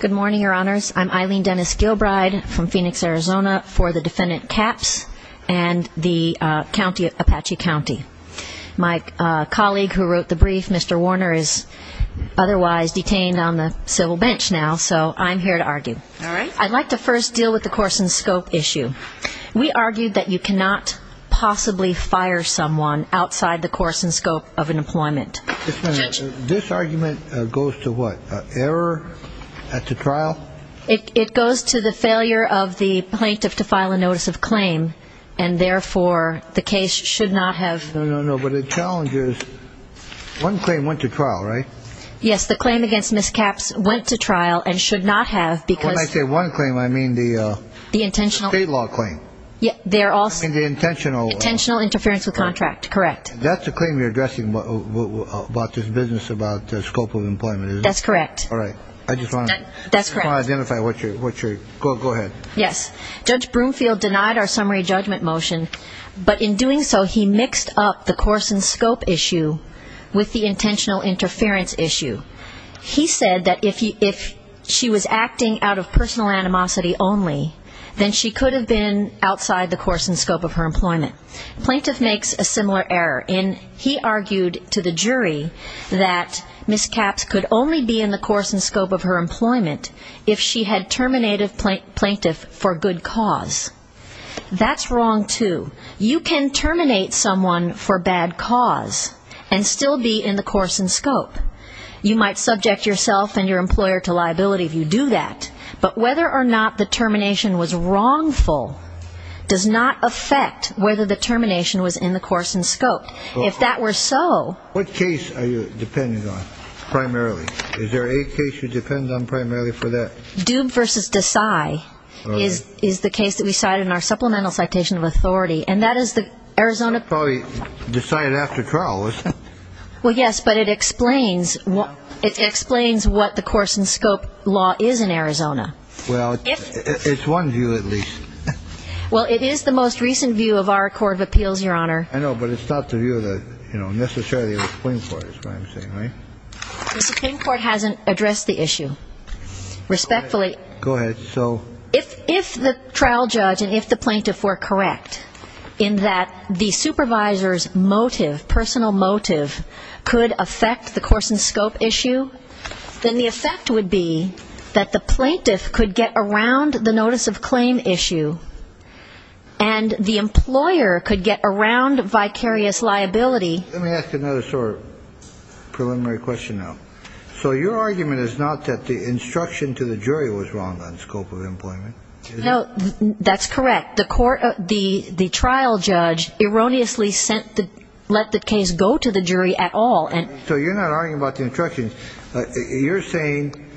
Good morning, Your Honors. I'm Eileen Dennis Gilbride from Phoenix, Arizona, for the defendant Capps and the county of Apache County. My colleague who wrote the brief, Mr. Warner, is otherwise detained on the civil bench now, so I'm here to argue. All right. I'd like to first deal with the course and scope issue. We argued that you cannot possibly fire someone outside the course and scope of an employment. This argument goes to what? Error at the trial? It goes to the failure of the plaintiff to file a notice of claim and therefore the case should not have. No, no, no. But the challenge is one claim went to trial, right? Yes, the claim against Ms. Capps went to trial and should not have because. When I say one claim, I mean the. The intentional. State law claim. They're also. The intentional. Intentional interference with contract. Correct. That's a claim you're addressing about this business, about the scope of employment. That's correct. All right. I just want to. That's correct. Identify what you're what you're. Go ahead. Yes. Judge Broomfield denied our summary judgment motion, but in doing so, he mixed up the course and scope issue with the intentional interference issue. He said that if he if she was acting out of personal animosity only, then she could have been outside the course and scope of her employment. Plaintiff makes a similar error in he argued to the jury that Ms. Capps could only be in the course and scope of her employment if she had terminated plaintiff for good cause. That's wrong, too. You can terminate someone for bad cause and still be in the course and scope. You might subject yourself and your employer to liability if you do that. But whether or not the termination was wrongful does not affect whether the termination was in the course and scope. If that were so. What case are you depending on primarily? Is there a case you depend on primarily for that? Dube versus Desai is is the case that we cited in our supplemental citation of authority. And that is the Arizona probably decided after trial. Well, yes, but it explains what it explains, what the course and scope law is in Arizona. Well, it's one view, at least. Well, it is the most recent view of our court of appeals, Your Honor. I know, but it's not the view that, you know, necessarily the Supreme Court is what I'm saying. The Supreme Court hasn't addressed the issue respectfully. Go ahead. If the trial judge and if the plaintiff were correct in that the supervisor's motive, personal motive, could affect the course and scope issue, then the effect would be that the plaintiff could get around the notice of claim issue and the employer could get around vicarious liability. Let me ask another sort of preliminary question now. So your argument is not that the instruction to the jury was wrong on scope of employment. No, that's correct. The court the the trial judge erroneously sent the let the case go to the jury at all. And so you're not arguing about the instructions. You're saying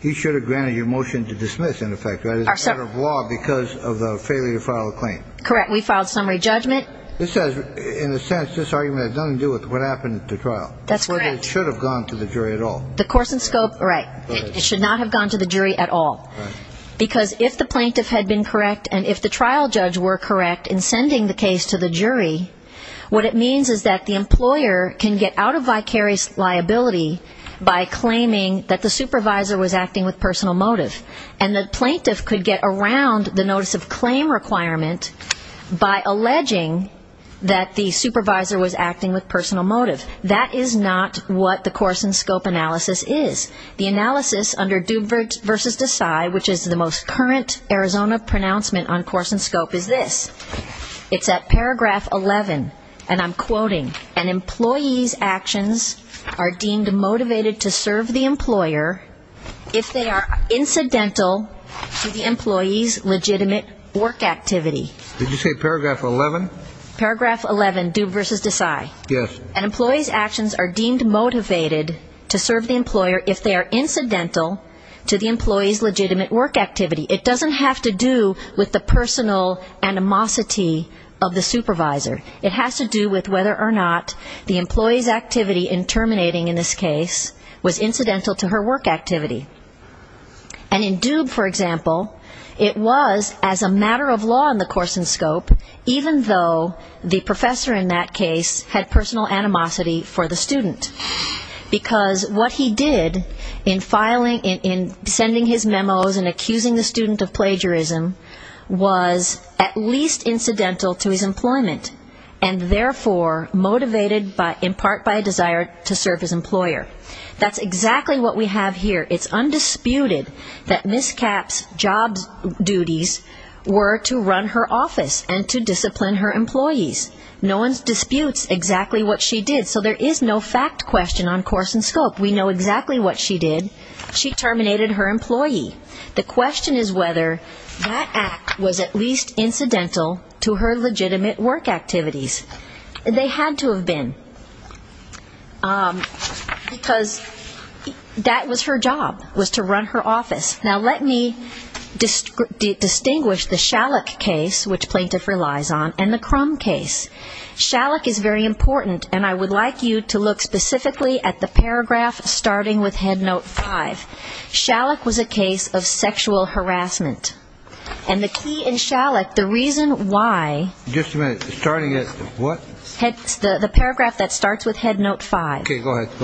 he should have granted your motion to dismiss, in effect. That is out of law because of the failure to file a claim. Correct. We filed summary judgment. This says, in a sense, this argument has nothing to do with what happened at the trial. That's correct. It should have gone to the jury at all. The course and scope. Right. It should not have gone to the jury at all. Right. Because if the plaintiff had been correct and if the trial judge were correct in sending the case to the jury, what it means is that the employer can get out of vicarious liability by claiming that the supervisor was acting with personal motive. And the plaintiff could get around the notice of claim requirement by alleging that the supervisor was acting with personal motive. That is not what the course and scope analysis is. The analysis under Doob versus Desai, which is the most current Arizona pronouncement on course and scope, is this. It's at paragraph 11, and I'm quoting, an employee's actions are deemed motivated to serve the employer if they are incidental to the employee's legitimate work activity. Did you say paragraph 11? Paragraph 11, Doob versus Desai. Yes. An employee's actions are deemed motivated to serve the employer if they are incidental to the employee's legitimate work activity. It doesn't have to do with the personal animosity of the supervisor. It has to do with whether or not the employee's activity in terminating in this case was incidental to her work activity. And in Doob, for example, it was as a matter of law in the course and scope, even though the professor in that case had personal animosity for the student. Because what he did in sending his memos and accusing the student of plagiarism was at least incidental to his employment, and therefore motivated in part by a desire to serve his employer. That's exactly what we have here. It's undisputed that Ms. Kapp's job duties were to run her office and to discipline her employees. No one disputes exactly what she did, so there is no fact question on course and scope. We know exactly what she did. She terminated her employee. The question is whether that act was at least incidental to her legitimate work activities. They had to have been. Because that was her job, was to run her office. Now, let me distinguish the Shallick case, which plaintiff relies on, and the Crum case. Shallick is very important, and I would like you to look specifically at the paragraph starting with Head Note 5. Shallick was a case of sexual harassment. And the key in Shallick, the reason why. Just a minute. Starting at what? The paragraph that starts with Head Note 5. Okay, go ahead.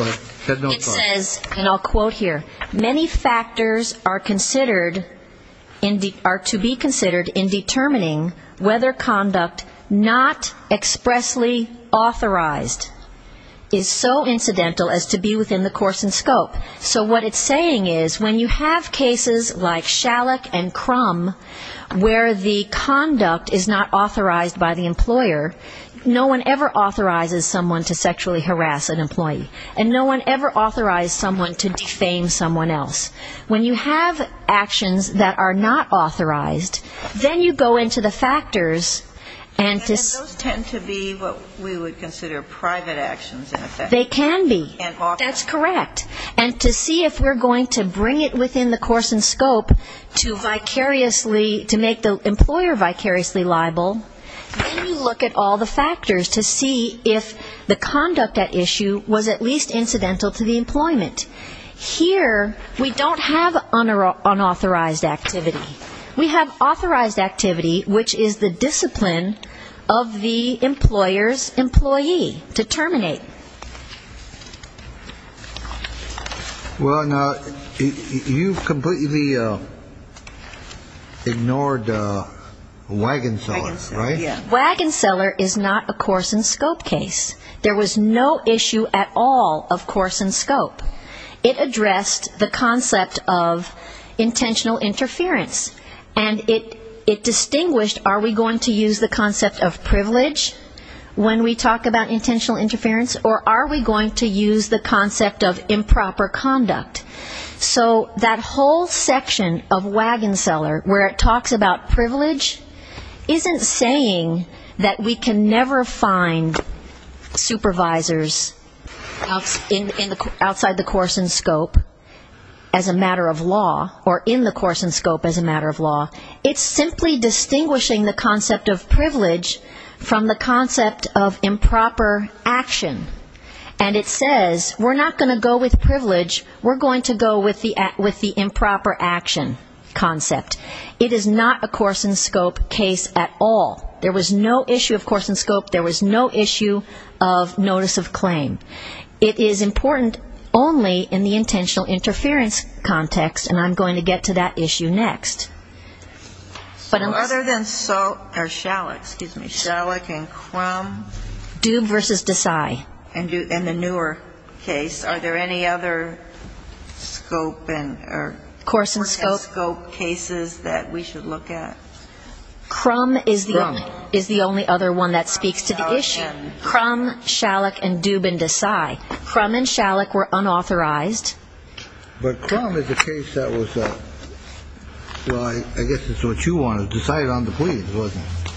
Head Note 5. It says, and I'll quote here, Many factors are to be considered in determining whether conduct not expressly authorized is so incidental as to be within the course and scope. So what it's saying is when you have cases like Shallick and Crum, where the conduct is not authorized by the employer, no one ever authorizes someone to sexually harass an employee. And no one ever authorized someone to defame someone else. When you have actions that are not authorized, then you go into the factors. And those tend to be what we would consider private actions, in effect. They can be. That's correct. And to see if we're going to bring it within the course and scope to vicariously, to make the employer vicariously liable, then you look at all the factors to see if the conduct at issue was at least incidental to the employment. Here, we don't have unauthorized activity. We have authorized activity, which is the discipline of the employer's employee to terminate. Well, now, you've completely ignored Wagon Seller, right? Wagon Seller is not a course and scope case. There was no issue at all of course and scope. It addressed the concept of intentional interference. And it distinguished are we going to use the concept of privilege when we talk about intentional interference or are we going to use the concept of improper conduct. So that whole section of Wagon Seller, where it talks about privilege, isn't saying that we can never find supervisors outside the course and scope as a matter of law or in the course and scope as a matter of law. It's simply distinguishing the concept of privilege from the concept of improper action. And it says we're not going to go with privilege. We're going to go with the improper action concept. It is not a course and scope case at all. There was no issue of course and scope. There was no issue of notice of claim. It is important only in the intentional interference context, and I'm going to get to that issue next. But unless... So other than Schalich, excuse me, Schalich and Crum. Dube versus Desai. In the newer case, are there any other scope and or course and scope cases that we should look at? Crum is the only other one that speaks to the issue. Crum, Schalich, and Dube and Desai. Crum and Schalich were unauthorized. But Crum is a case that was, well, I guess it's what you wanted, decided on the plea, wasn't it?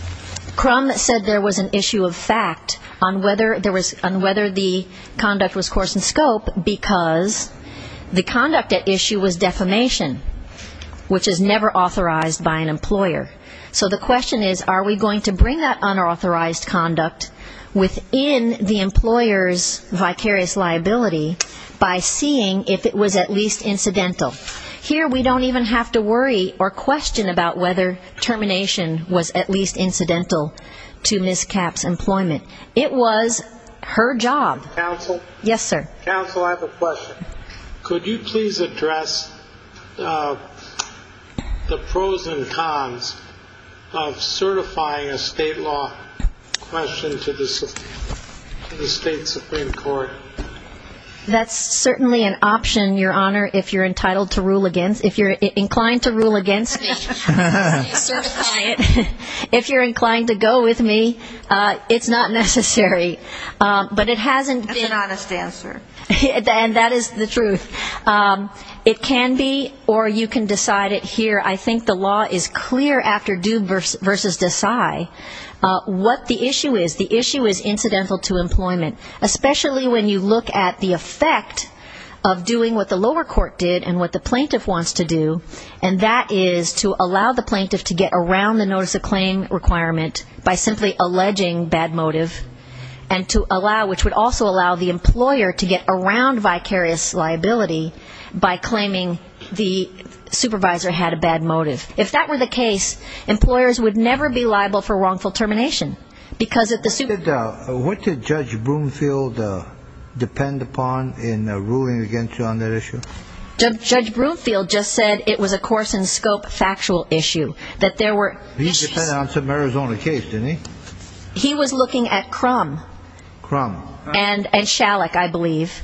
Crum said there was an issue of fact on whether the conduct was course and scope because the conduct at issue was defamation, which is never authorized by an employer. So the question is are we going to bring that unauthorized conduct within the employer's vicarious liability by seeing if it was at least incidental? Here we don't even have to worry or question about whether termination was at least incidental to Ms. Capp's employment. It was her job. Counsel? Yes, sir. Counsel, I have a question. Could you please address the pros and cons of certifying a state law question to the state Supreme Court? That's certainly an option, Your Honor, if you're entitled to rule against. If you're inclined to rule against, certify it. If you're inclined to go with me, it's not necessary. But it hasn't been. That's an honest answer. And that is the truth. It can be, or you can decide it here. I think the law is clear after Dube v. Desai what the issue is. The issue is incidental to employment, especially when you look at the effect of doing what the lower court did and what the plaintiff wants to do, and that is to allow the plaintiff to get around the notice of claim requirement by simply alleging bad motive, which would also allow the employer to get around vicarious liability by claiming the supervisor had a bad motive. If that were the case, employers would never be liable for wrongful termination. What did Judge Broomfield depend upon in ruling against you on that issue? Judge Broomfield just said it was a course-in-scope factual issue. He depended on some Arizona case, didn't he? He was looking at Crum. Crum. And Shalek, I believe.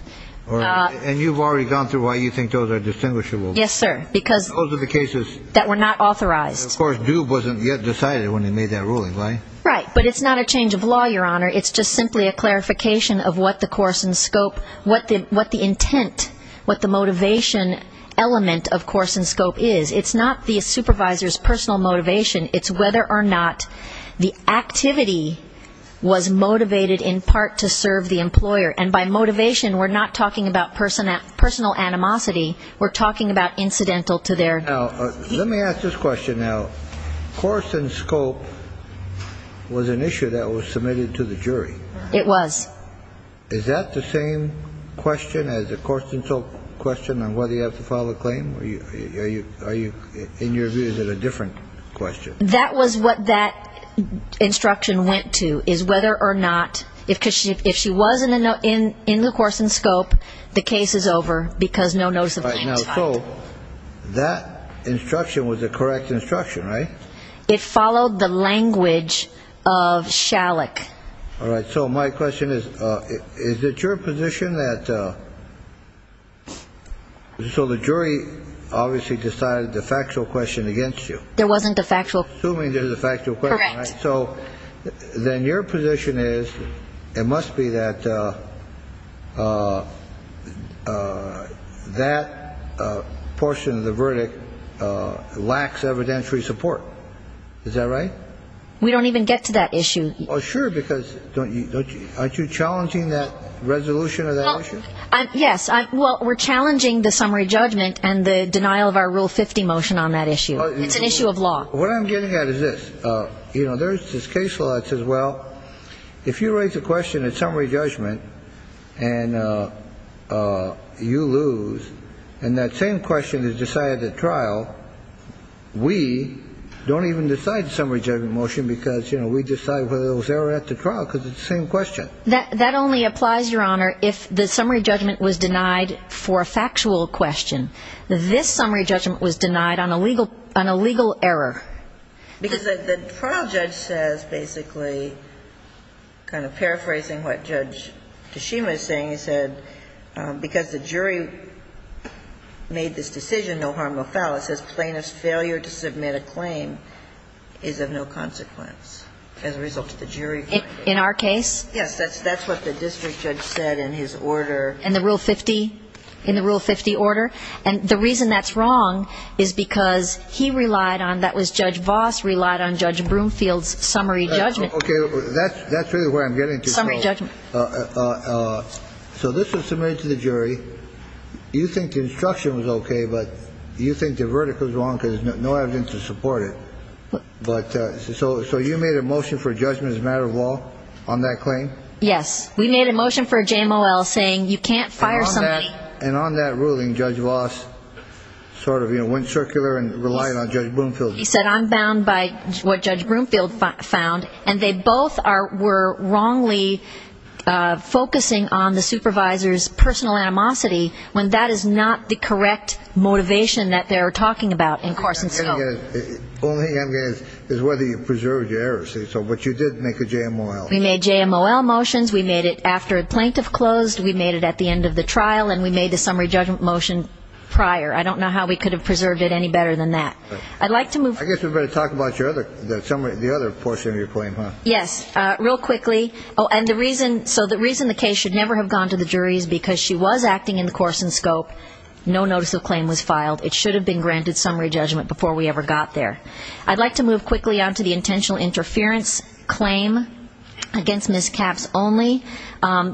And you've already gone through why you think those are distinguishable. Yes, sir. Because those are the cases that were not authorized. Of course, Dube wasn't yet decided when he made that ruling, right? Right. But it's not a change of law, Your Honor. It's just simply a clarification of what the course-in-scope, what the intent, what the motivation element of course-in-scope is. It's not the supervisor's personal motivation. It's whether or not the activity was motivated in part to serve the employer. And by motivation, we're not talking about personal animosity. We're talking about incidental to their. Now, let me ask this question now. Course-in-scope was an issue that was submitted to the jury. It was. Is that the same question as the course-in-scope question on whether you have to file a claim? In your view, is it a different question? That was what that instruction went to, is whether or not, if she was in the course-in-scope, the case is over because no notice of claims filed. All right. Now, so that instruction was the correct instruction, right? It followed the language of Shalek. All right. So my question is, is it your position that so the jury obviously decided the factual question against you? There wasn't a factual- Assuming there's a factual question. Correct. So then your position is it must be that that portion of the verdict lacks evidentiary support. Is that right? We don't even get to that issue. Well, sure, because aren't you challenging that resolution of that issue? Yes. Well, we're challenging the summary judgment and the denial of our Rule 50 motion on that issue. It's an issue of law. What I'm getting at is this. You know, there's this case law that says, well, if you raise a question at summary judgment and you lose and that same question is decided at trial, we don't even decide the summary judgment motion because, you know, we decide whether there was error at the trial because it's the same question. That only applies, Your Honor, if the summary judgment was denied for a factual question. This summary judgment was denied on a legal error. Because the trial judge says basically, kind of paraphrasing what Judge Tashima is saying, because the jury made this decision, no harm, no foul. It says plaintiff's failure to submit a claim is of no consequence as a result of the jury finding. In our case? Yes, that's what the district judge said in his order. In the Rule 50 order? And the reason that's wrong is because he relied on, that was Judge Voss, relied on Judge Broomfield's summary judgment. Okay, that's really where I'm getting to. Summary judgment. So this was submitted to the jury. You think the instruction was okay, but you think the verdict was wrong because there's no evidence to support it. But so you made a motion for judgment as a matter of law on that claim? Yes, we made a motion for JMOL saying you can't fire somebody. And on that ruling, Judge Voss sort of, you know, went circular and relied on Judge Broomfield. He said, I'm bound by what Judge Broomfield found, and they both were wrongly focusing on the supervisor's personal animosity when that is not the correct motivation that they're talking about in course and scope. The only thing I'm getting at is whether you preserved your error, but you did make a JMOL. We made JMOL motions. We made it after a plaintiff closed. We made it at the end of the trial, and we made the summary judgment motion prior. I don't know how we could have preserved it any better than that. I'd like to move. I guess we better talk about the other portion of your claim, huh? Yes. Real quickly. Oh, and the reason the case should never have gone to the jury is because she was acting in the course and scope. No notice of claim was filed. It should have been granted summary judgment before we ever got there. I'd like to move quickly on to the intentional interference claim against Ms. Capps only.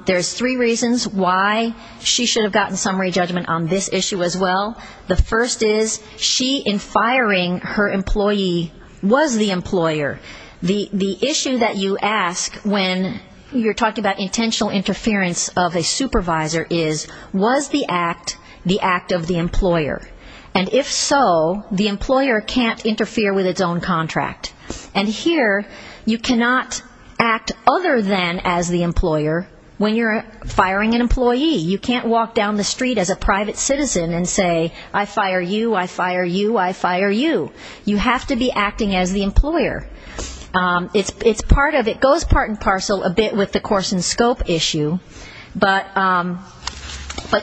There's three reasons why she should have gotten summary judgment on this issue as well. The first is she, in firing her employee, was the employer. The issue that you ask when you're talking about intentional interference of a supervisor is was the act the act of the employer? And if so, the employer can't interfere with its own contract. And here you cannot act other than as the employer when you're firing an employee. You can't walk down the street as a private citizen and say, I fire you, I fire you, I fire you. You have to be acting as the employer. It goes part and parcel a bit with the course and scope issue, but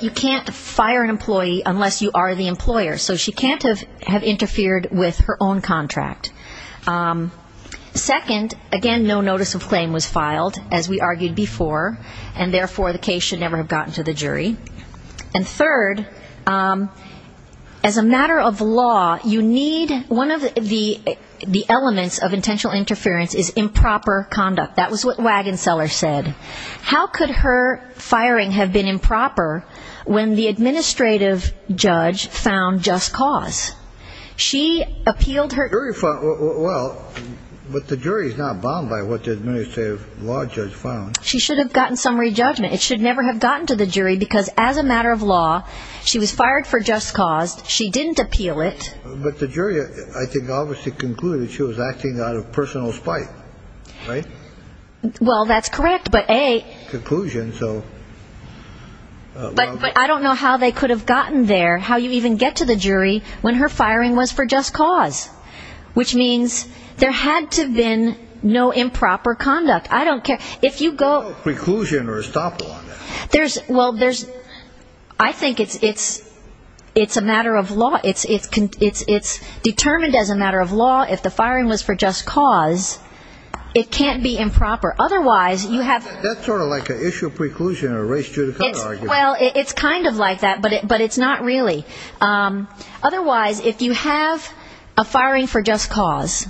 you can't fire an employee unless you are the employer. So she can't have interfered with her own contract. Second, again, no notice of claim was filed, as we argued before, and therefore the case should never have gotten to the jury. And third, as a matter of law, you need one of the elements of intentional interference is improper conduct. That was what Wagenseller said. How could her firing have been improper when the administrative judge found just cause? She appealed her. Well, but the jury is not bound by what the administrative law judge found. She should have gotten some re-judgment. It should never have gotten to the jury because, as a matter of law, she was fired for just cause. She didn't appeal it. But the jury, I think, obviously concluded she was acting out of personal spite, right? Well, that's correct, but A. Conclusion, so. But I don't know how they could have gotten there, how you even get to the jury, when her firing was for just cause, which means there had to have been no improper conduct. I don't care. No preclusion or estoppel on that. Well, I think it's a matter of law. It's determined as a matter of law. If the firing was for just cause, it can't be improper. Otherwise, you have. That's sort of like an issue of preclusion or race judicata argument. Well, it's kind of like that, but it's not really. Otherwise, if you have a firing for just cause,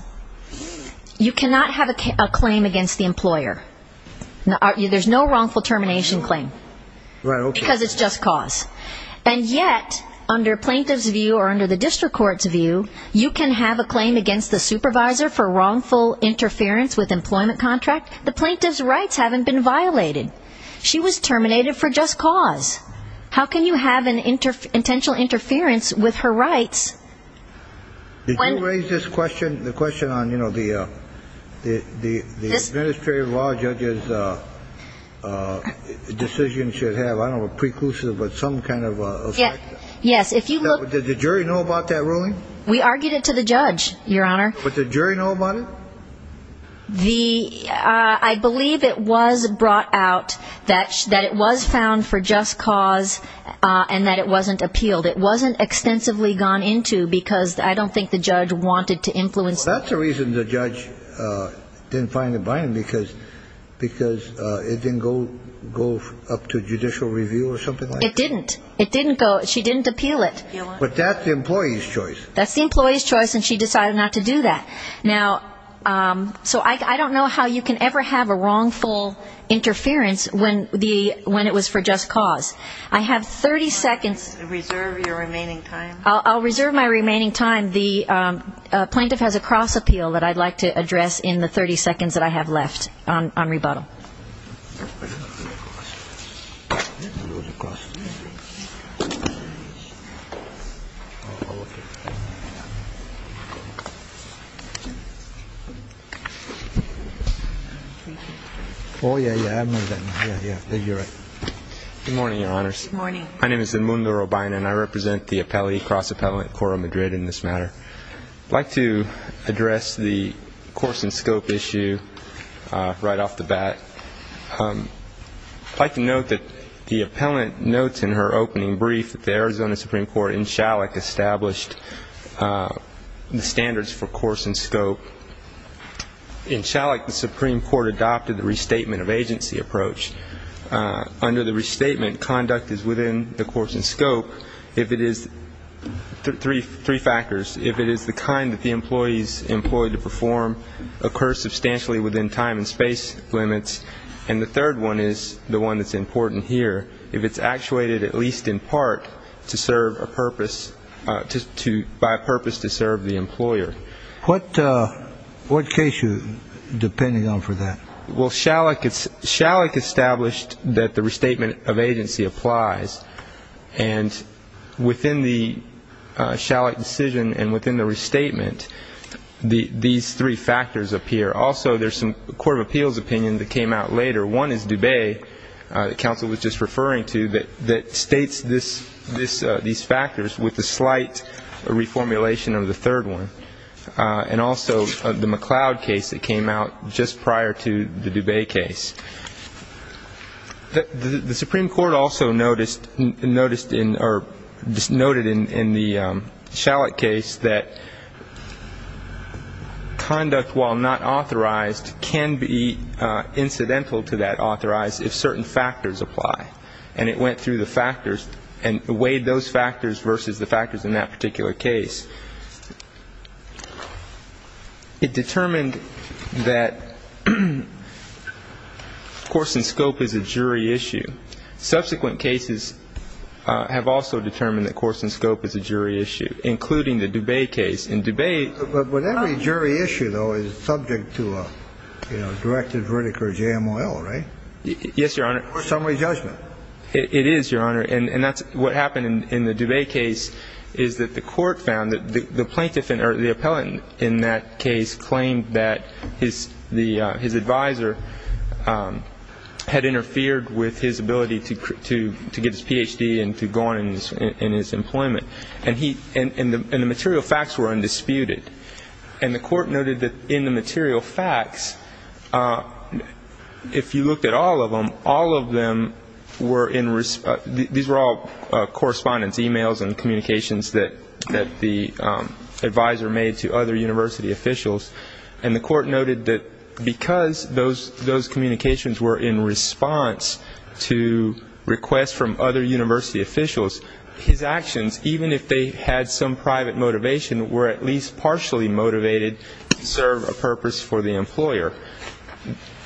you cannot have a claim against the employer. There's no wrongful termination claim. Because it's just cause. And yet, under plaintiff's view or under the district court's view, you can have a claim against the supervisor for wrongful interference with employment contract. The plaintiff's rights haven't been violated. She was terminated for just cause. How can you have an intentional interference with her rights? Did you raise this question, the question on, you know, the administrative law judge's decision should have, I don't know, a preclusive, but some kind of effect? Yes. Did the jury know about that ruling? We argued it to the judge, Your Honor. But did the jury know about it? The I believe it was brought out that that it was found for just cause and that it wasn't appealed. It wasn't extensively gone into because I don't think the judge wanted to influence. That's the reason the judge didn't find it binding, because because it didn't go go up to judicial review or something. It didn't. It didn't go. She didn't appeal it. But that's the employee's choice. That's the employee's choice. And she decided not to do that. Now, so I don't know how you can ever have a wrongful interference when the when it was for just cause. I have 30 seconds. Reserve your remaining time. I'll reserve my remaining time. The plaintiff has a cross appeal that I'd like to address in the 30 seconds that I have left on rebuttal. Oh, yeah. Yeah. Yeah. Yeah. You're right. Good morning, Your Honor. Good morning. My name is the Mundo Robina and I represent the appellee cross appellant core of Madrid in this matter. I'd like to address the course and scope issue right off the bat. I'd like to note that the appellant notes in her opening brief that the Arizona Supreme Court in Shalik established the standards for course and scope. In Shalik, the Supreme Court adopted the restatement of agency approach. Under the restatement, conduct is within the course and scope if it is three factors. If it is the kind that the employees employed to perform occurs substantially within time and space limits. And the third one is the one that's important here. If it's actuated at least in part to serve a purpose to by purpose to serve the employer. What case you're depending on for that? Well, Shalik established that the restatement of agency applies. And within the Shalik decision and within the restatement, these three factors appear. Also, there's some court of appeals opinion that came out later. One is Dubey. The counsel was just referring to that that states this, this, these factors with the slight reformulation of the third one. And also the McLeod case that came out just prior to the Dubey case. The Supreme Court also noticed in or noted in the Shalik case that conduct while not authorized can be incidental to that authorized if certain factors apply. And it went through the factors and weighed those factors versus the factors in that particular case. It determined that course and scope is a jury issue. Subsequent cases have also determined that course and scope is a jury issue, including the Dubey case. In Dubey. But every jury issue, though, is subject to a directed verdict or JMOL, right? Yes, Your Honor. Or summary judgment. It is, Your Honor. And that's what happened in the Dubey case, is that the court found that the plaintiff or the appellant in that case claimed that his advisor had interfered with his ability to get his Ph.D. and to go on in his employment. And the material facts were undisputed. And the court noted that in the material facts, if you looked at all of them, all of them were in response. These were all correspondence, e-mails and communications that the advisor made to other university officials. And the court noted that because those communications were in response to requests from other university officials, his actions, even if they had some private motivation, were at least partially motivated to serve a purpose for the employer.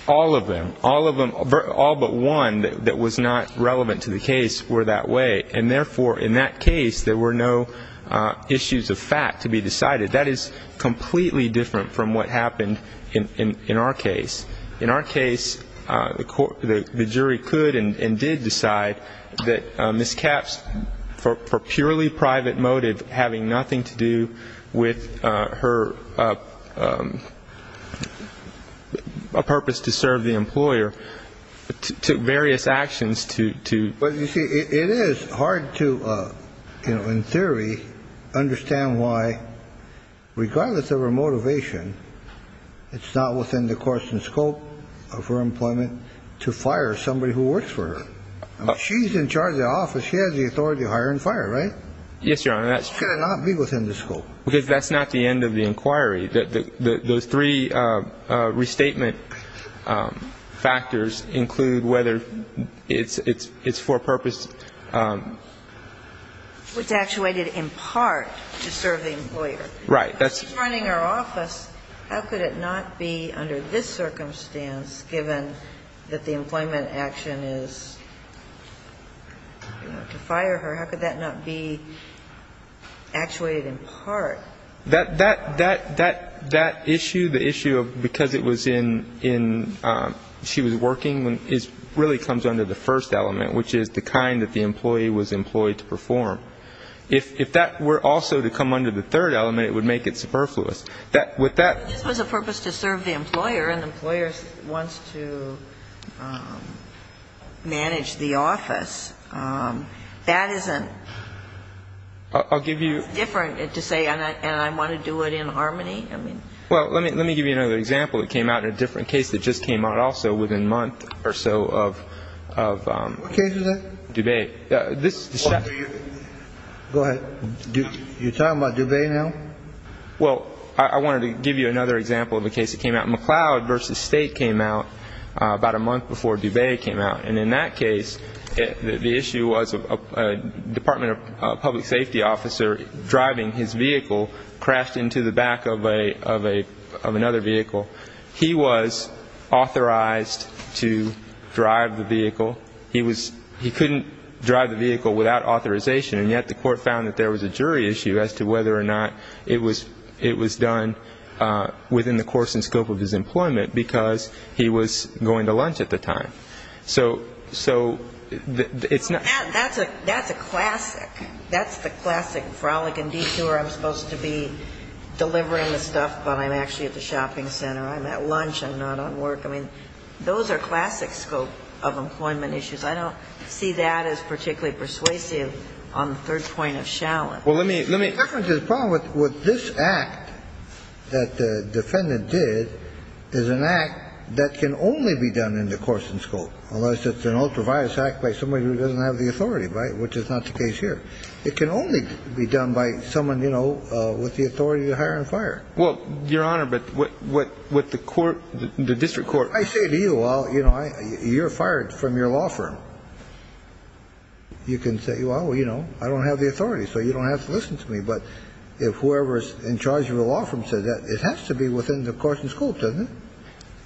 All of them, all of them, all but one that was not relevant to the case were that way. And, therefore, in that case, there were no issues of fact to be decided. That is completely different from what happened in our case. In our case, the jury could and did decide that Ms. Capps, for purely private motive, having nothing to do with her purpose to serve the employer, took various actions to do. It is hard to, in theory, understand why, regardless of her motivation, it's not within the course and scope of her employment to fire somebody who works for her. She's in charge of the office. She has the authority to hire and fire, right? Yes, Your Honor. How could it not be within the scope? Because that's not the end of the inquiry. Those three restatement factors include whether it's for purpose. It's actuated in part to serve the employer. Right. She's running her office. How could it not be under this circumstance, given that the employment action is to fire her? How could that not be actuated in part? That issue, the issue of because it was in, she was working, really comes under the first element, which is the kind that the employee was employed to perform. If that were also to come under the third element, it would make it superfluous. This was a purpose to serve the employer, and the employer wants to manage the office. That isn't different to say, and I want to do it in harmony. Well, let me give you another example. It came out in a different case that just came out also within a month or so of Dubay. Go ahead. You're talking about Dubay now? Well, I wanted to give you another example of a case that came out. McCloud v. State came out about a month before Dubay came out. And in that case, the issue was a Department of Public Safety officer driving his vehicle, crashed into the back of another vehicle. He was authorized to drive the vehicle. He couldn't drive the vehicle without authorization, and yet the court found that there was a jury issue as to whether or not it was done within the course and scope of his employment because he was going to lunch at the time. So it's not... That's a classic. That's the classic frolic and detour. I'm supposed to be delivering the stuff, but I'm actually at the shopping center. I'm at lunch. I'm not at work. I mean, those are classic scope of employment issues. The problem with this act that the defendant did is an act that can only be done in the course and scope, unless it's an ultraviolence act by somebody who doesn't have the authority, which is not the case here. It can only be done by someone, you know, with the authority to hire and fire. Well, Your Honor, but what the court, the district court... I say to you, well, you know, you're fired from your law firm. You can say, well, you know, I don't have the authority, so you don't have to listen to me. But if whoever is in charge of the law firm says that, it has to be within the course and scope, doesn't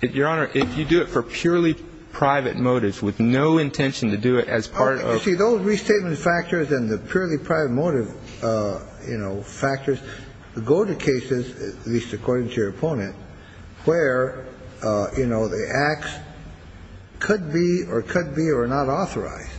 it? Your Honor, if you do it for purely private motives with no intention to do it as part of... You see, those restatement factors and the purely private motive, you know, factors go to cases, at least according to your opponent, where, you know, the acts could be or could be or are not authorized,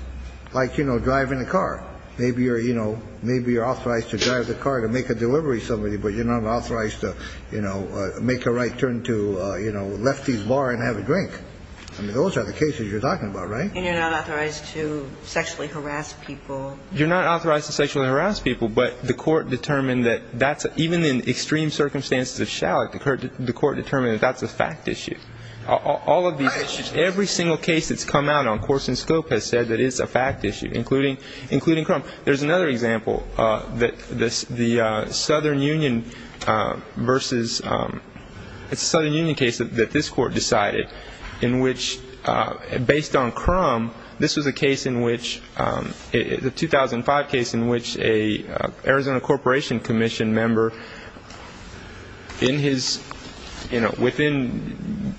like, you know, driving a car. Maybe you're, you know, maybe you're authorized to drive the car to make a delivery to somebody, but you're not authorized to, you know, make a right turn to, you know, a lefty's bar and have a drink. I mean, those are the cases you're talking about, right? And you're not authorized to sexually harass people. You're not authorized to sexually harass people, but the court determined that that's... the court determined that that's a fact issue. All of these issues, every single case that's come out on course and scope has said that it's a fact issue, including Crum. There's another example that the Southern Union versus... It's a Southern Union case that this Court decided in which, based on Crum, this was a case in which... It's a 2005 case in which an Arizona Corporation Commission member in his, you know, within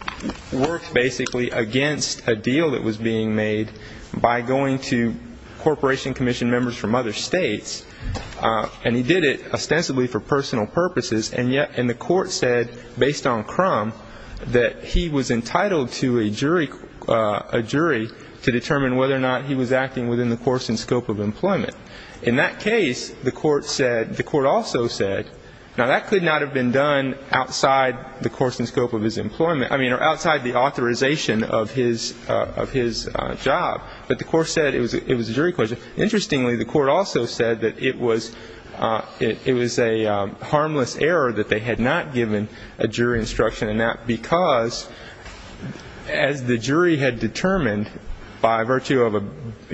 works basically against a deal that was being made by going to Corporation Commission members from other states, and he did it ostensibly for personal purposes, and yet the court said, based on Crum, that he was entitled to a jury to determine whether or not he was acting within the course and scope of employment. In that case, the court said, the court also said, now, that could not have been done outside the course and scope of his employment, I mean, or outside the authorization of his job, but the court said it was a jury question. Interestingly, the court also said that it was a harmless error that they had not given a jury instruction, and that because, as the jury had determined by virtue of a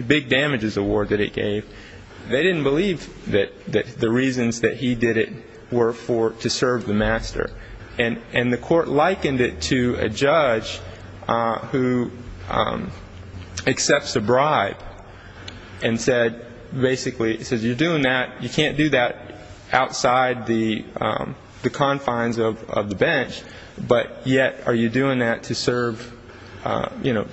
big damages award that it gave, they didn't believe that the reasons that he did it were to serve the master, and the court likened it to a judge who accepts a bribe and said, basically, he says, outside the confines of the bench, but yet are you doing that to serve, you know,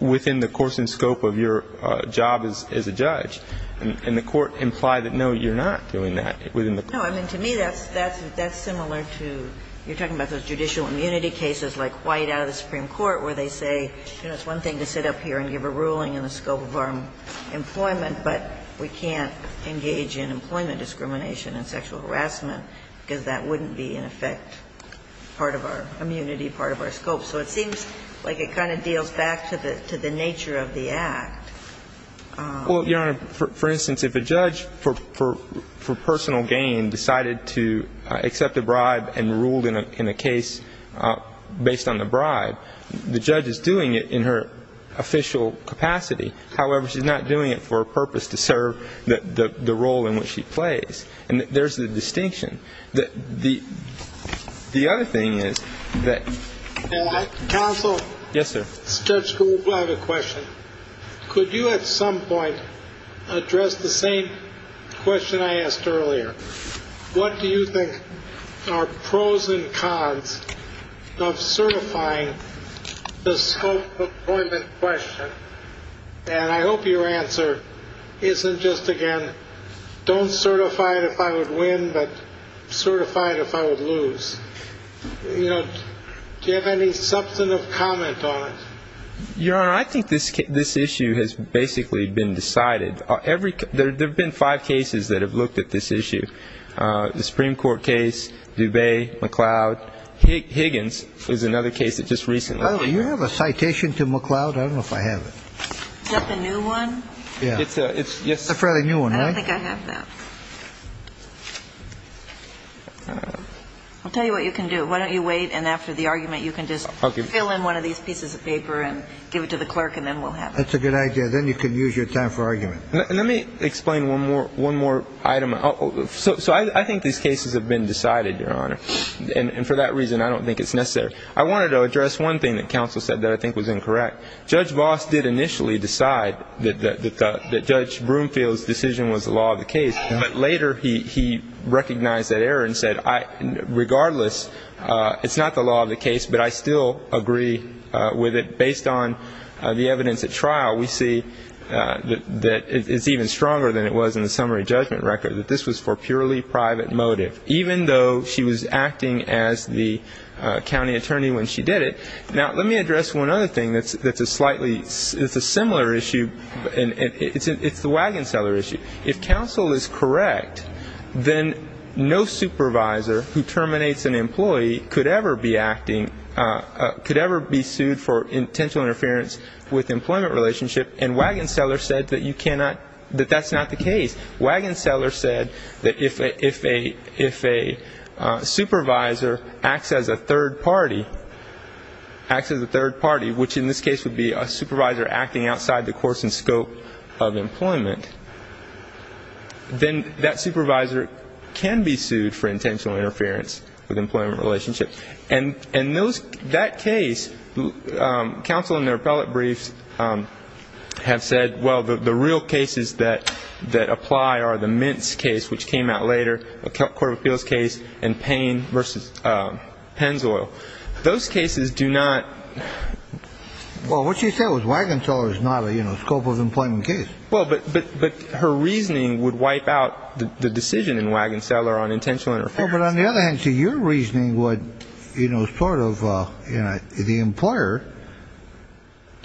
within the course and scope of your job as a judge, and the court implied that, no, you're not doing that. No, I mean, to me, that's similar to, you're talking about those judicial immunity cases like White out of the Supreme Court where they say, you know, it's one thing to sit up here and give a ruling in the scope of our employment, but we can't engage in employment discrimination and sexual harassment, because that wouldn't be, in effect, part of our immunity, part of our scope. So it seems like it kind of deals back to the nature of the act. Well, Your Honor, for instance, if a judge for personal gain decided to accept a bribe and ruled in a case based on the bribe, the judge is doing it in her official capacity. However, she's not doing it for a purpose to serve the role in which she plays. And there's the distinction. The other thing is that – Counsel? Yes, sir. Judge Krupa, I have a question. Could you at some point address the same question I asked earlier? What do you think are pros and cons of certifying the scope of employment question? And I hope your answer isn't just, again, don't certify it if I would win, but certify it if I would lose. You know, do you have any substantive comment on it? Your Honor, I think this issue has basically been decided. There have been five cases that have looked at this issue. The Supreme Court case, Dubay, McLeod. Higgins is another case that just recently happened. By the way, do you have a citation to McLeod? I don't know if I have it. Is that the new one? It's a fairly new one, right? I don't think I have that. I'll tell you what you can do. Why don't you wait, and after the argument you can just fill in one of these pieces of paper and give it to the clerk, and then we'll have it. That's a good idea. Then you can use your time for argument. Let me explain one more item. So I think these cases have been decided, Your Honor, and for that reason I don't think it's necessary. I wanted to address one thing that counsel said that I think was incorrect. Judge Voss did initially decide that Judge Broomfield's decision was the law of the case, but later he recognized that error and said, regardless, it's not the law of the case, but I still agree with it based on the evidence at trial. We see that it's even stronger than it was in the summary judgment record, that this was for purely private motive, even though she was acting as the county attorney when she did it. Now, let me address one other thing that's a slightly similar issue, and it's the wagon seller issue. If counsel is correct, then no supervisor who terminates an employee could ever be acting, could ever be sued for intentional interference with employment relationship, and wagon seller said that you cannot, that that's not the case. Wagon seller said that if a supervisor acts as a third party, acts as a third party, which in this case would be a supervisor acting outside the course and scope of employment, then that supervisor can be sued for intentional interference with employment relationship. And in that case, counsel in their appellate briefs have said, well, the real cases that apply are the Mintz case, which came out later, a court of appeals case, and Payne v. Penzoil. Those cases do not. Well, what she said was wagon seller is not a, you know, scope of employment case. Well, but her reasoning would wipe out the decision in wagon seller on intentional interference. But on the other hand, so your reasoning would, you know, sort of, you know, the employer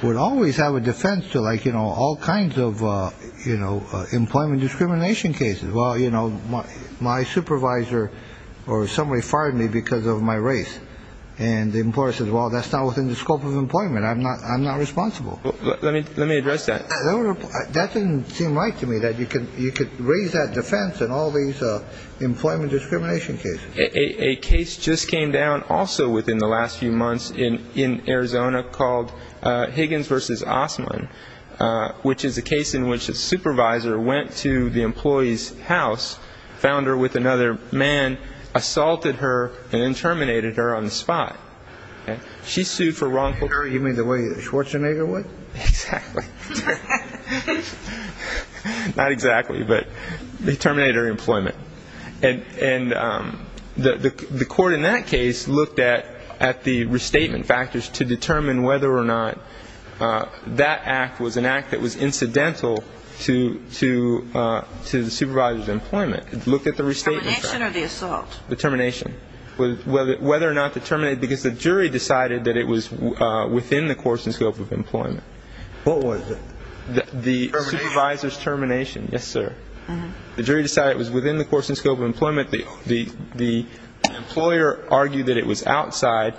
would always have a defense to like, you know, all kinds of, you know, employment discrimination cases. Well, you know, my supervisor or somebody fired me because of my race. And the employer says, well, that's not within the scope of employment. I'm not I'm not responsible. Let me let me address that. That didn't seem right to me that you could you could raise that defense and all these employment discrimination case. A case just came down also within the last few months in in Arizona called Higgins versus Osman, which is a case in which a supervisor went to the employee's house, found her with another man, assaulted her and terminated her on the spot. And she sued for wrongful. You mean the way Schwarzenegger would. Exactly. Not exactly, but they terminated her employment. And the court in that case looked at at the restatement factors to determine whether or not that act was an act that was incidental to to to the supervisor's employment. Look at the restatement or the assault. The termination was whether whether or not to terminate because the jury decided that it was within the course and scope of employment. What was the supervisor's termination? Yes, sir. The jury decided it was within the course and scope of employment. The the the employer argued that it was outside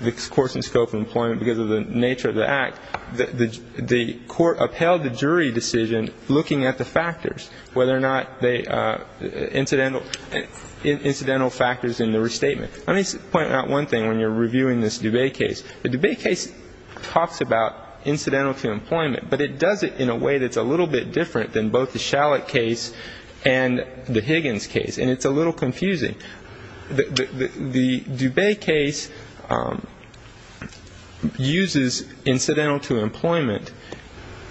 the course and scope of employment because of the nature of the act. The court upheld the jury decision looking at the factors, whether or not they incidental incidental factors in the restatement. Let me point out one thing when you're reviewing this debate case. The debate case talks about incidental to employment, but it does it in a way that's a little bit different than both the shallot case and the Higgins case. And it's a little confusing. The debate case uses incidental to employment,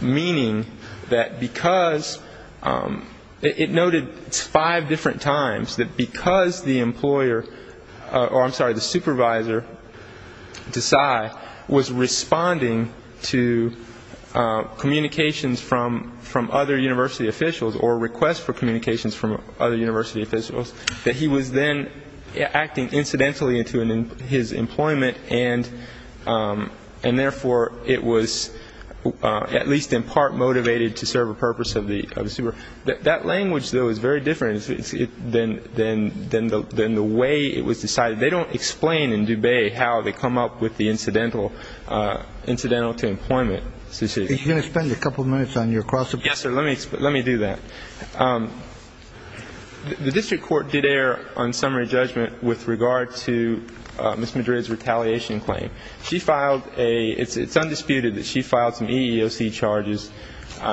meaning that because it noted five different times that because the employer or I'm sorry, the supervisor decide was responding to communications from from other university officials or requests for communications from other university officials, that he was then acting incidentally into his employment. And and therefore it was at least in part motivated to serve a purpose of the super. That language, though, is very different. Then then then the way it was decided, they don't explain in Dubai how they come up with the incidental incidental to employment. This is going to spend a couple of minutes on your cross. Yes, sir. Let me let me do that. The district court did err on summary judgment with regard to Miss Madrid's retaliation claim. She filed a it's undisputed that she filed some EEOC charges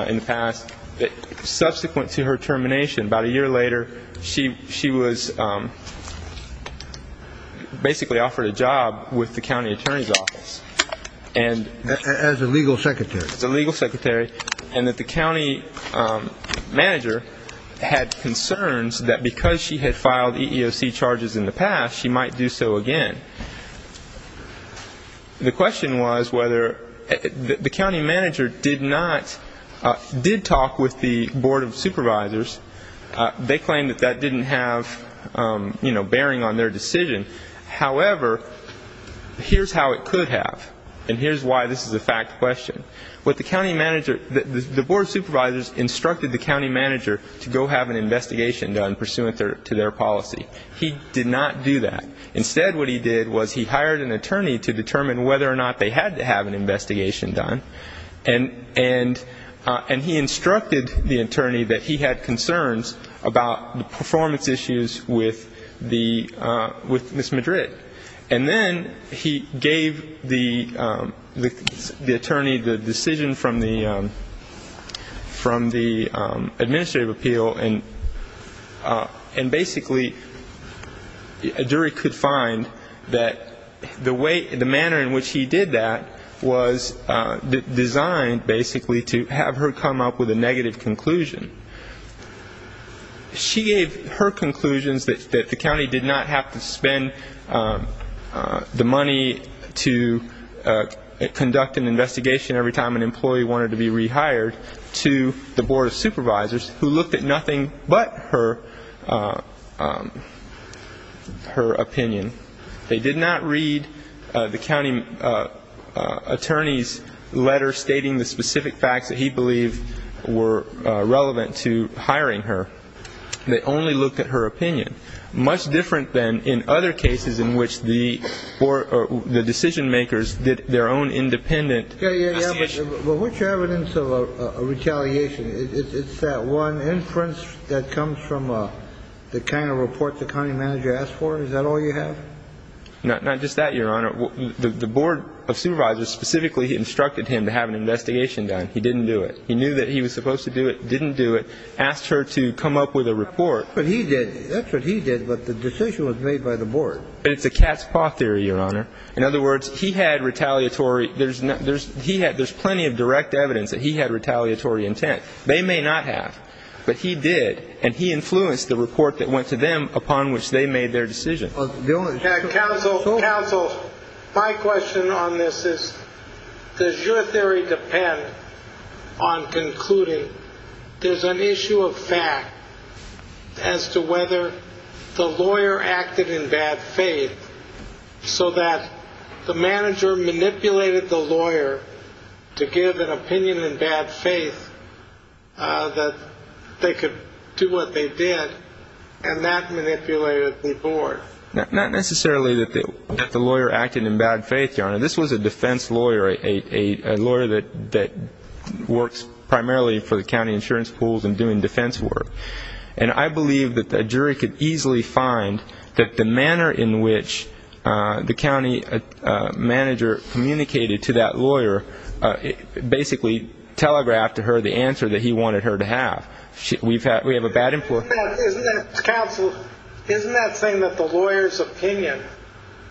in the past that subsequent to her termination. About a year later, she she was basically offered a job with the county attorney's office and as a legal secretary, the legal secretary and that the county manager had concerns that because she had filed EEOC charges in the past, she might do so again. The question was whether the county manager did not did talk with the board of supervisors. They claimed that that didn't have bearing on their decision. However, here's how it could have. And here's why. This is a fact question with the county manager. The board of supervisors instructed the county manager to go have an investigation done pursuant to their policy. He did not do that. Instead, what he did was he hired an attorney to determine whether or not they had to have an investigation done. And and and he instructed the attorney that he had concerns about the performance issues with the with Miss Madrid. And then he gave the the attorney the decision from the from the administrative appeal. And and basically a jury could find that the way the manner in which he did that was designed basically to have her come up with a negative conclusion. She gave her conclusions that the county did not have to spend the money to conduct an investigation every time an employee wanted to be rehired to the board of supervisors who looked at nothing but her her opinion. They did not read the county attorney's letter stating the specific facts that he believed were relevant to hiring her. They only looked at her opinion. Much different than in other cases in which the or the decision makers did their own independent. Which evidence of retaliation is that one inference that comes from the kind of report the county manager asked for? Is that all you have? Not just that, Your Honor. The board of supervisors specifically instructed him to have an investigation done. He didn't do it. He knew that he was supposed to do it. Didn't do it. Asked her to come up with a report. But he did. That's what he did. But the decision was made by the board. It's a cat's paw theory, Your Honor. In other words, he had retaliatory. There's there's he had there's plenty of direct evidence that he had retaliatory intent. They may not have, but he did. And he influenced the report that went to them upon which they made their decision. Counsel, counsel. My question on this is, does your theory depend on concluding there's an issue of fact as to whether the lawyer acted in bad faith so that the manager manipulated the lawyer to give an opinion in bad faith that they could do what they did and that manipulated the board? Not necessarily that the lawyer acted in bad faith, Your Honor. This was a defense lawyer, a lawyer that that works primarily for the county insurance pools and doing defense work. And I believe that the jury could easily find that the manner in which the county manager communicated to that lawyer basically telegraphed to her the answer that he wanted her to have. We have a bad influence. Counsel, isn't that saying that the lawyer's opinion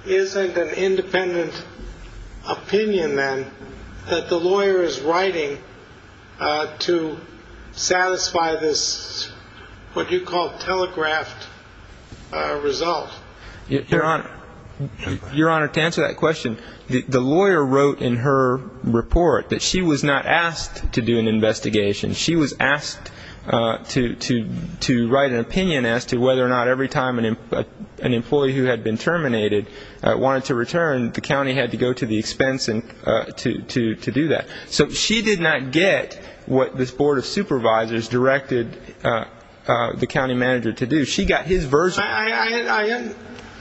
isn't an independent opinion then that the lawyer is writing to satisfy this? What do you call telegraphed result? Your Honor. Your Honor, to answer that question, the lawyer wrote in her report that she was not asked to do an investigation. She was asked to to to write an opinion as to whether or not every time an employee who had been terminated wanted to return. The county had to go to the expense and to to to do that. So she did not get what this board of supervisors directed the county manager to do.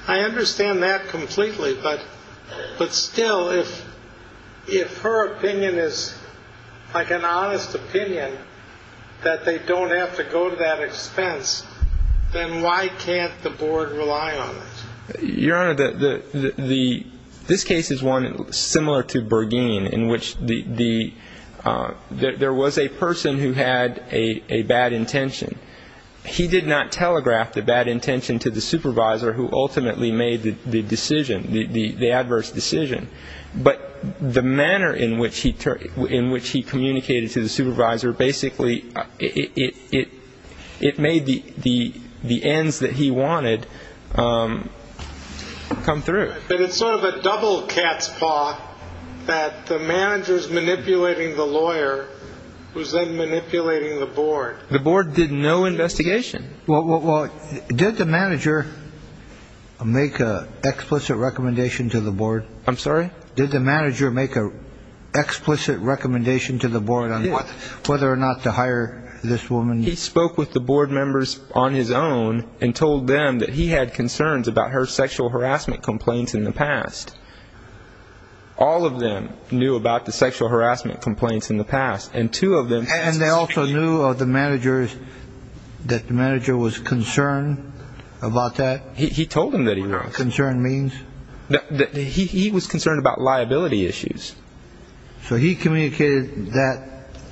I understand that completely. But but still, if if her opinion is like an honest opinion that they don't have to go to that expense, then why can't the board rely on it? Your Honor, the the this case is one similar to Bergen, in which the there was a person who had a bad intention. He did not telegraph the bad intention to the supervisor who ultimately made the decision, the adverse decision. But the manner in which he in which he communicated to the supervisor, basically it it it made the the the ends that he wanted come through. But it's sort of a double cat's paw that the managers manipulating the lawyer was then manipulating the board. The board did no investigation. Well, did the manager make an explicit recommendation to the board? I'm sorry. Did the manager make an explicit recommendation to the board on whether or not to hire this woman? He spoke with the board members on his own and told them that he had concerns about her sexual harassment complaints in the past. All of them knew about the sexual harassment complaints in the past and two of them. And they also knew of the managers that the manager was concerned about that. He told him that he was concerned means that he was concerned about liability issues. So he communicated that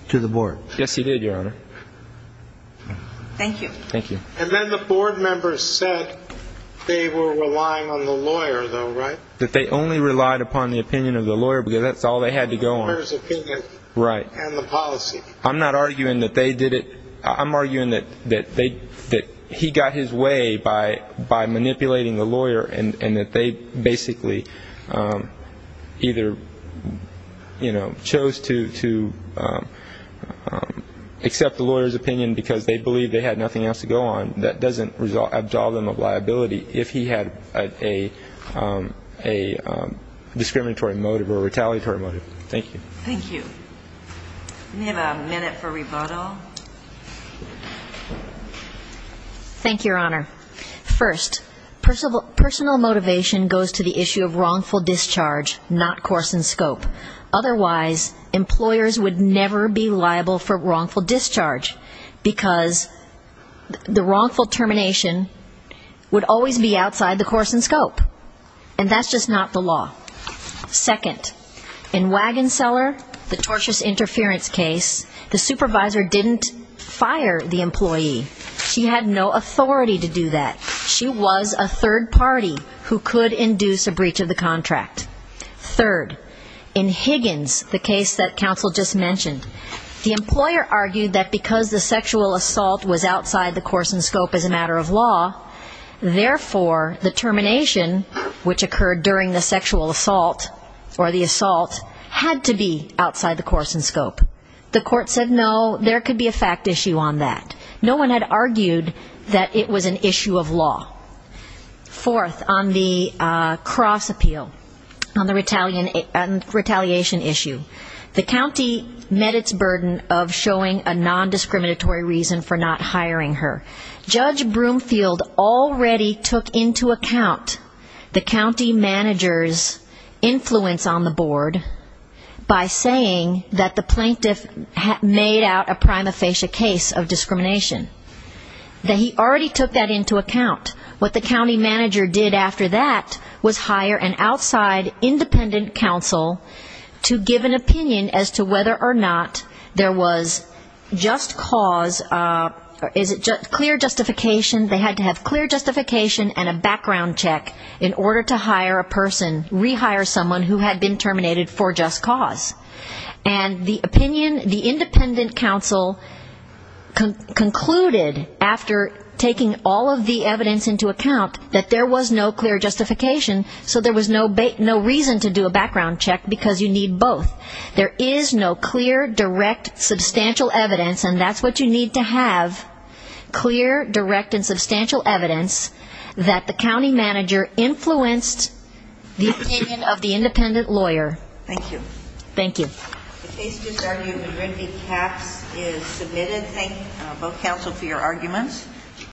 to the board. Yes, he did, Your Honor. Thank you. Thank you. And then the board members said they were relying on the lawyer, though, right? That they only relied upon the opinion of the lawyer because that's all they had to go on. Right. I'm not arguing that they did it. I'm arguing that that they that he got his way by by manipulating the lawyer and that they basically either, you know, chose to to accept the lawyer's opinion because they believe they had nothing else to go on. That doesn't result in a liability if he had a a discriminatory motive or retaliatory motive. Thank you. Thank you. We have a minute for rebuttal. Thank you, Your Honor. First, personal personal motivation goes to the issue of wrongful discharge, not course and scope. Otherwise, employers would never be liable for wrongful discharge because the wrongful termination would always be outside the course and scope. And that's just not the law. Second, in Wagon Seller, the tortious interference case, the supervisor didn't fire the employee. She had no authority to do that. She was a third party who could induce a breach of the contract. Third, in Higgins, the case that counsel just mentioned, the employer argued that because the sexual assault was outside the course and scope as a matter of law, therefore, the termination, which occurred during the sexual assault or the assault, had to be outside the course and scope. The court said, no, there could be a fact issue on that. No one had argued that it was an issue of law. Fourth, on the cross appeal, on the retaliation issue, the county met its burden of showing a nondiscriminatory reason for not hiring her. Judge Broomfield already took into account the county manager's influence on the board by saying that the plaintiff made out a prima facie case of discrimination. That he already took that into account. What the county manager did after that was hire an outside independent counsel to give an opinion as to whether or not there was just cause, clear justification, they had to have clear justification and a background check in order to hire a person, rehire someone who had been terminated for just cause. And the opinion, the independent counsel concluded after taking all of the evidence into account that there was no clear justification, so there was no reason to do a background check because you need both. There is no clear, direct, substantial evidence, and that's what you need to have, clear, direct and substantial evidence that the county manager influenced the opinion of the independent lawyer. Thank you.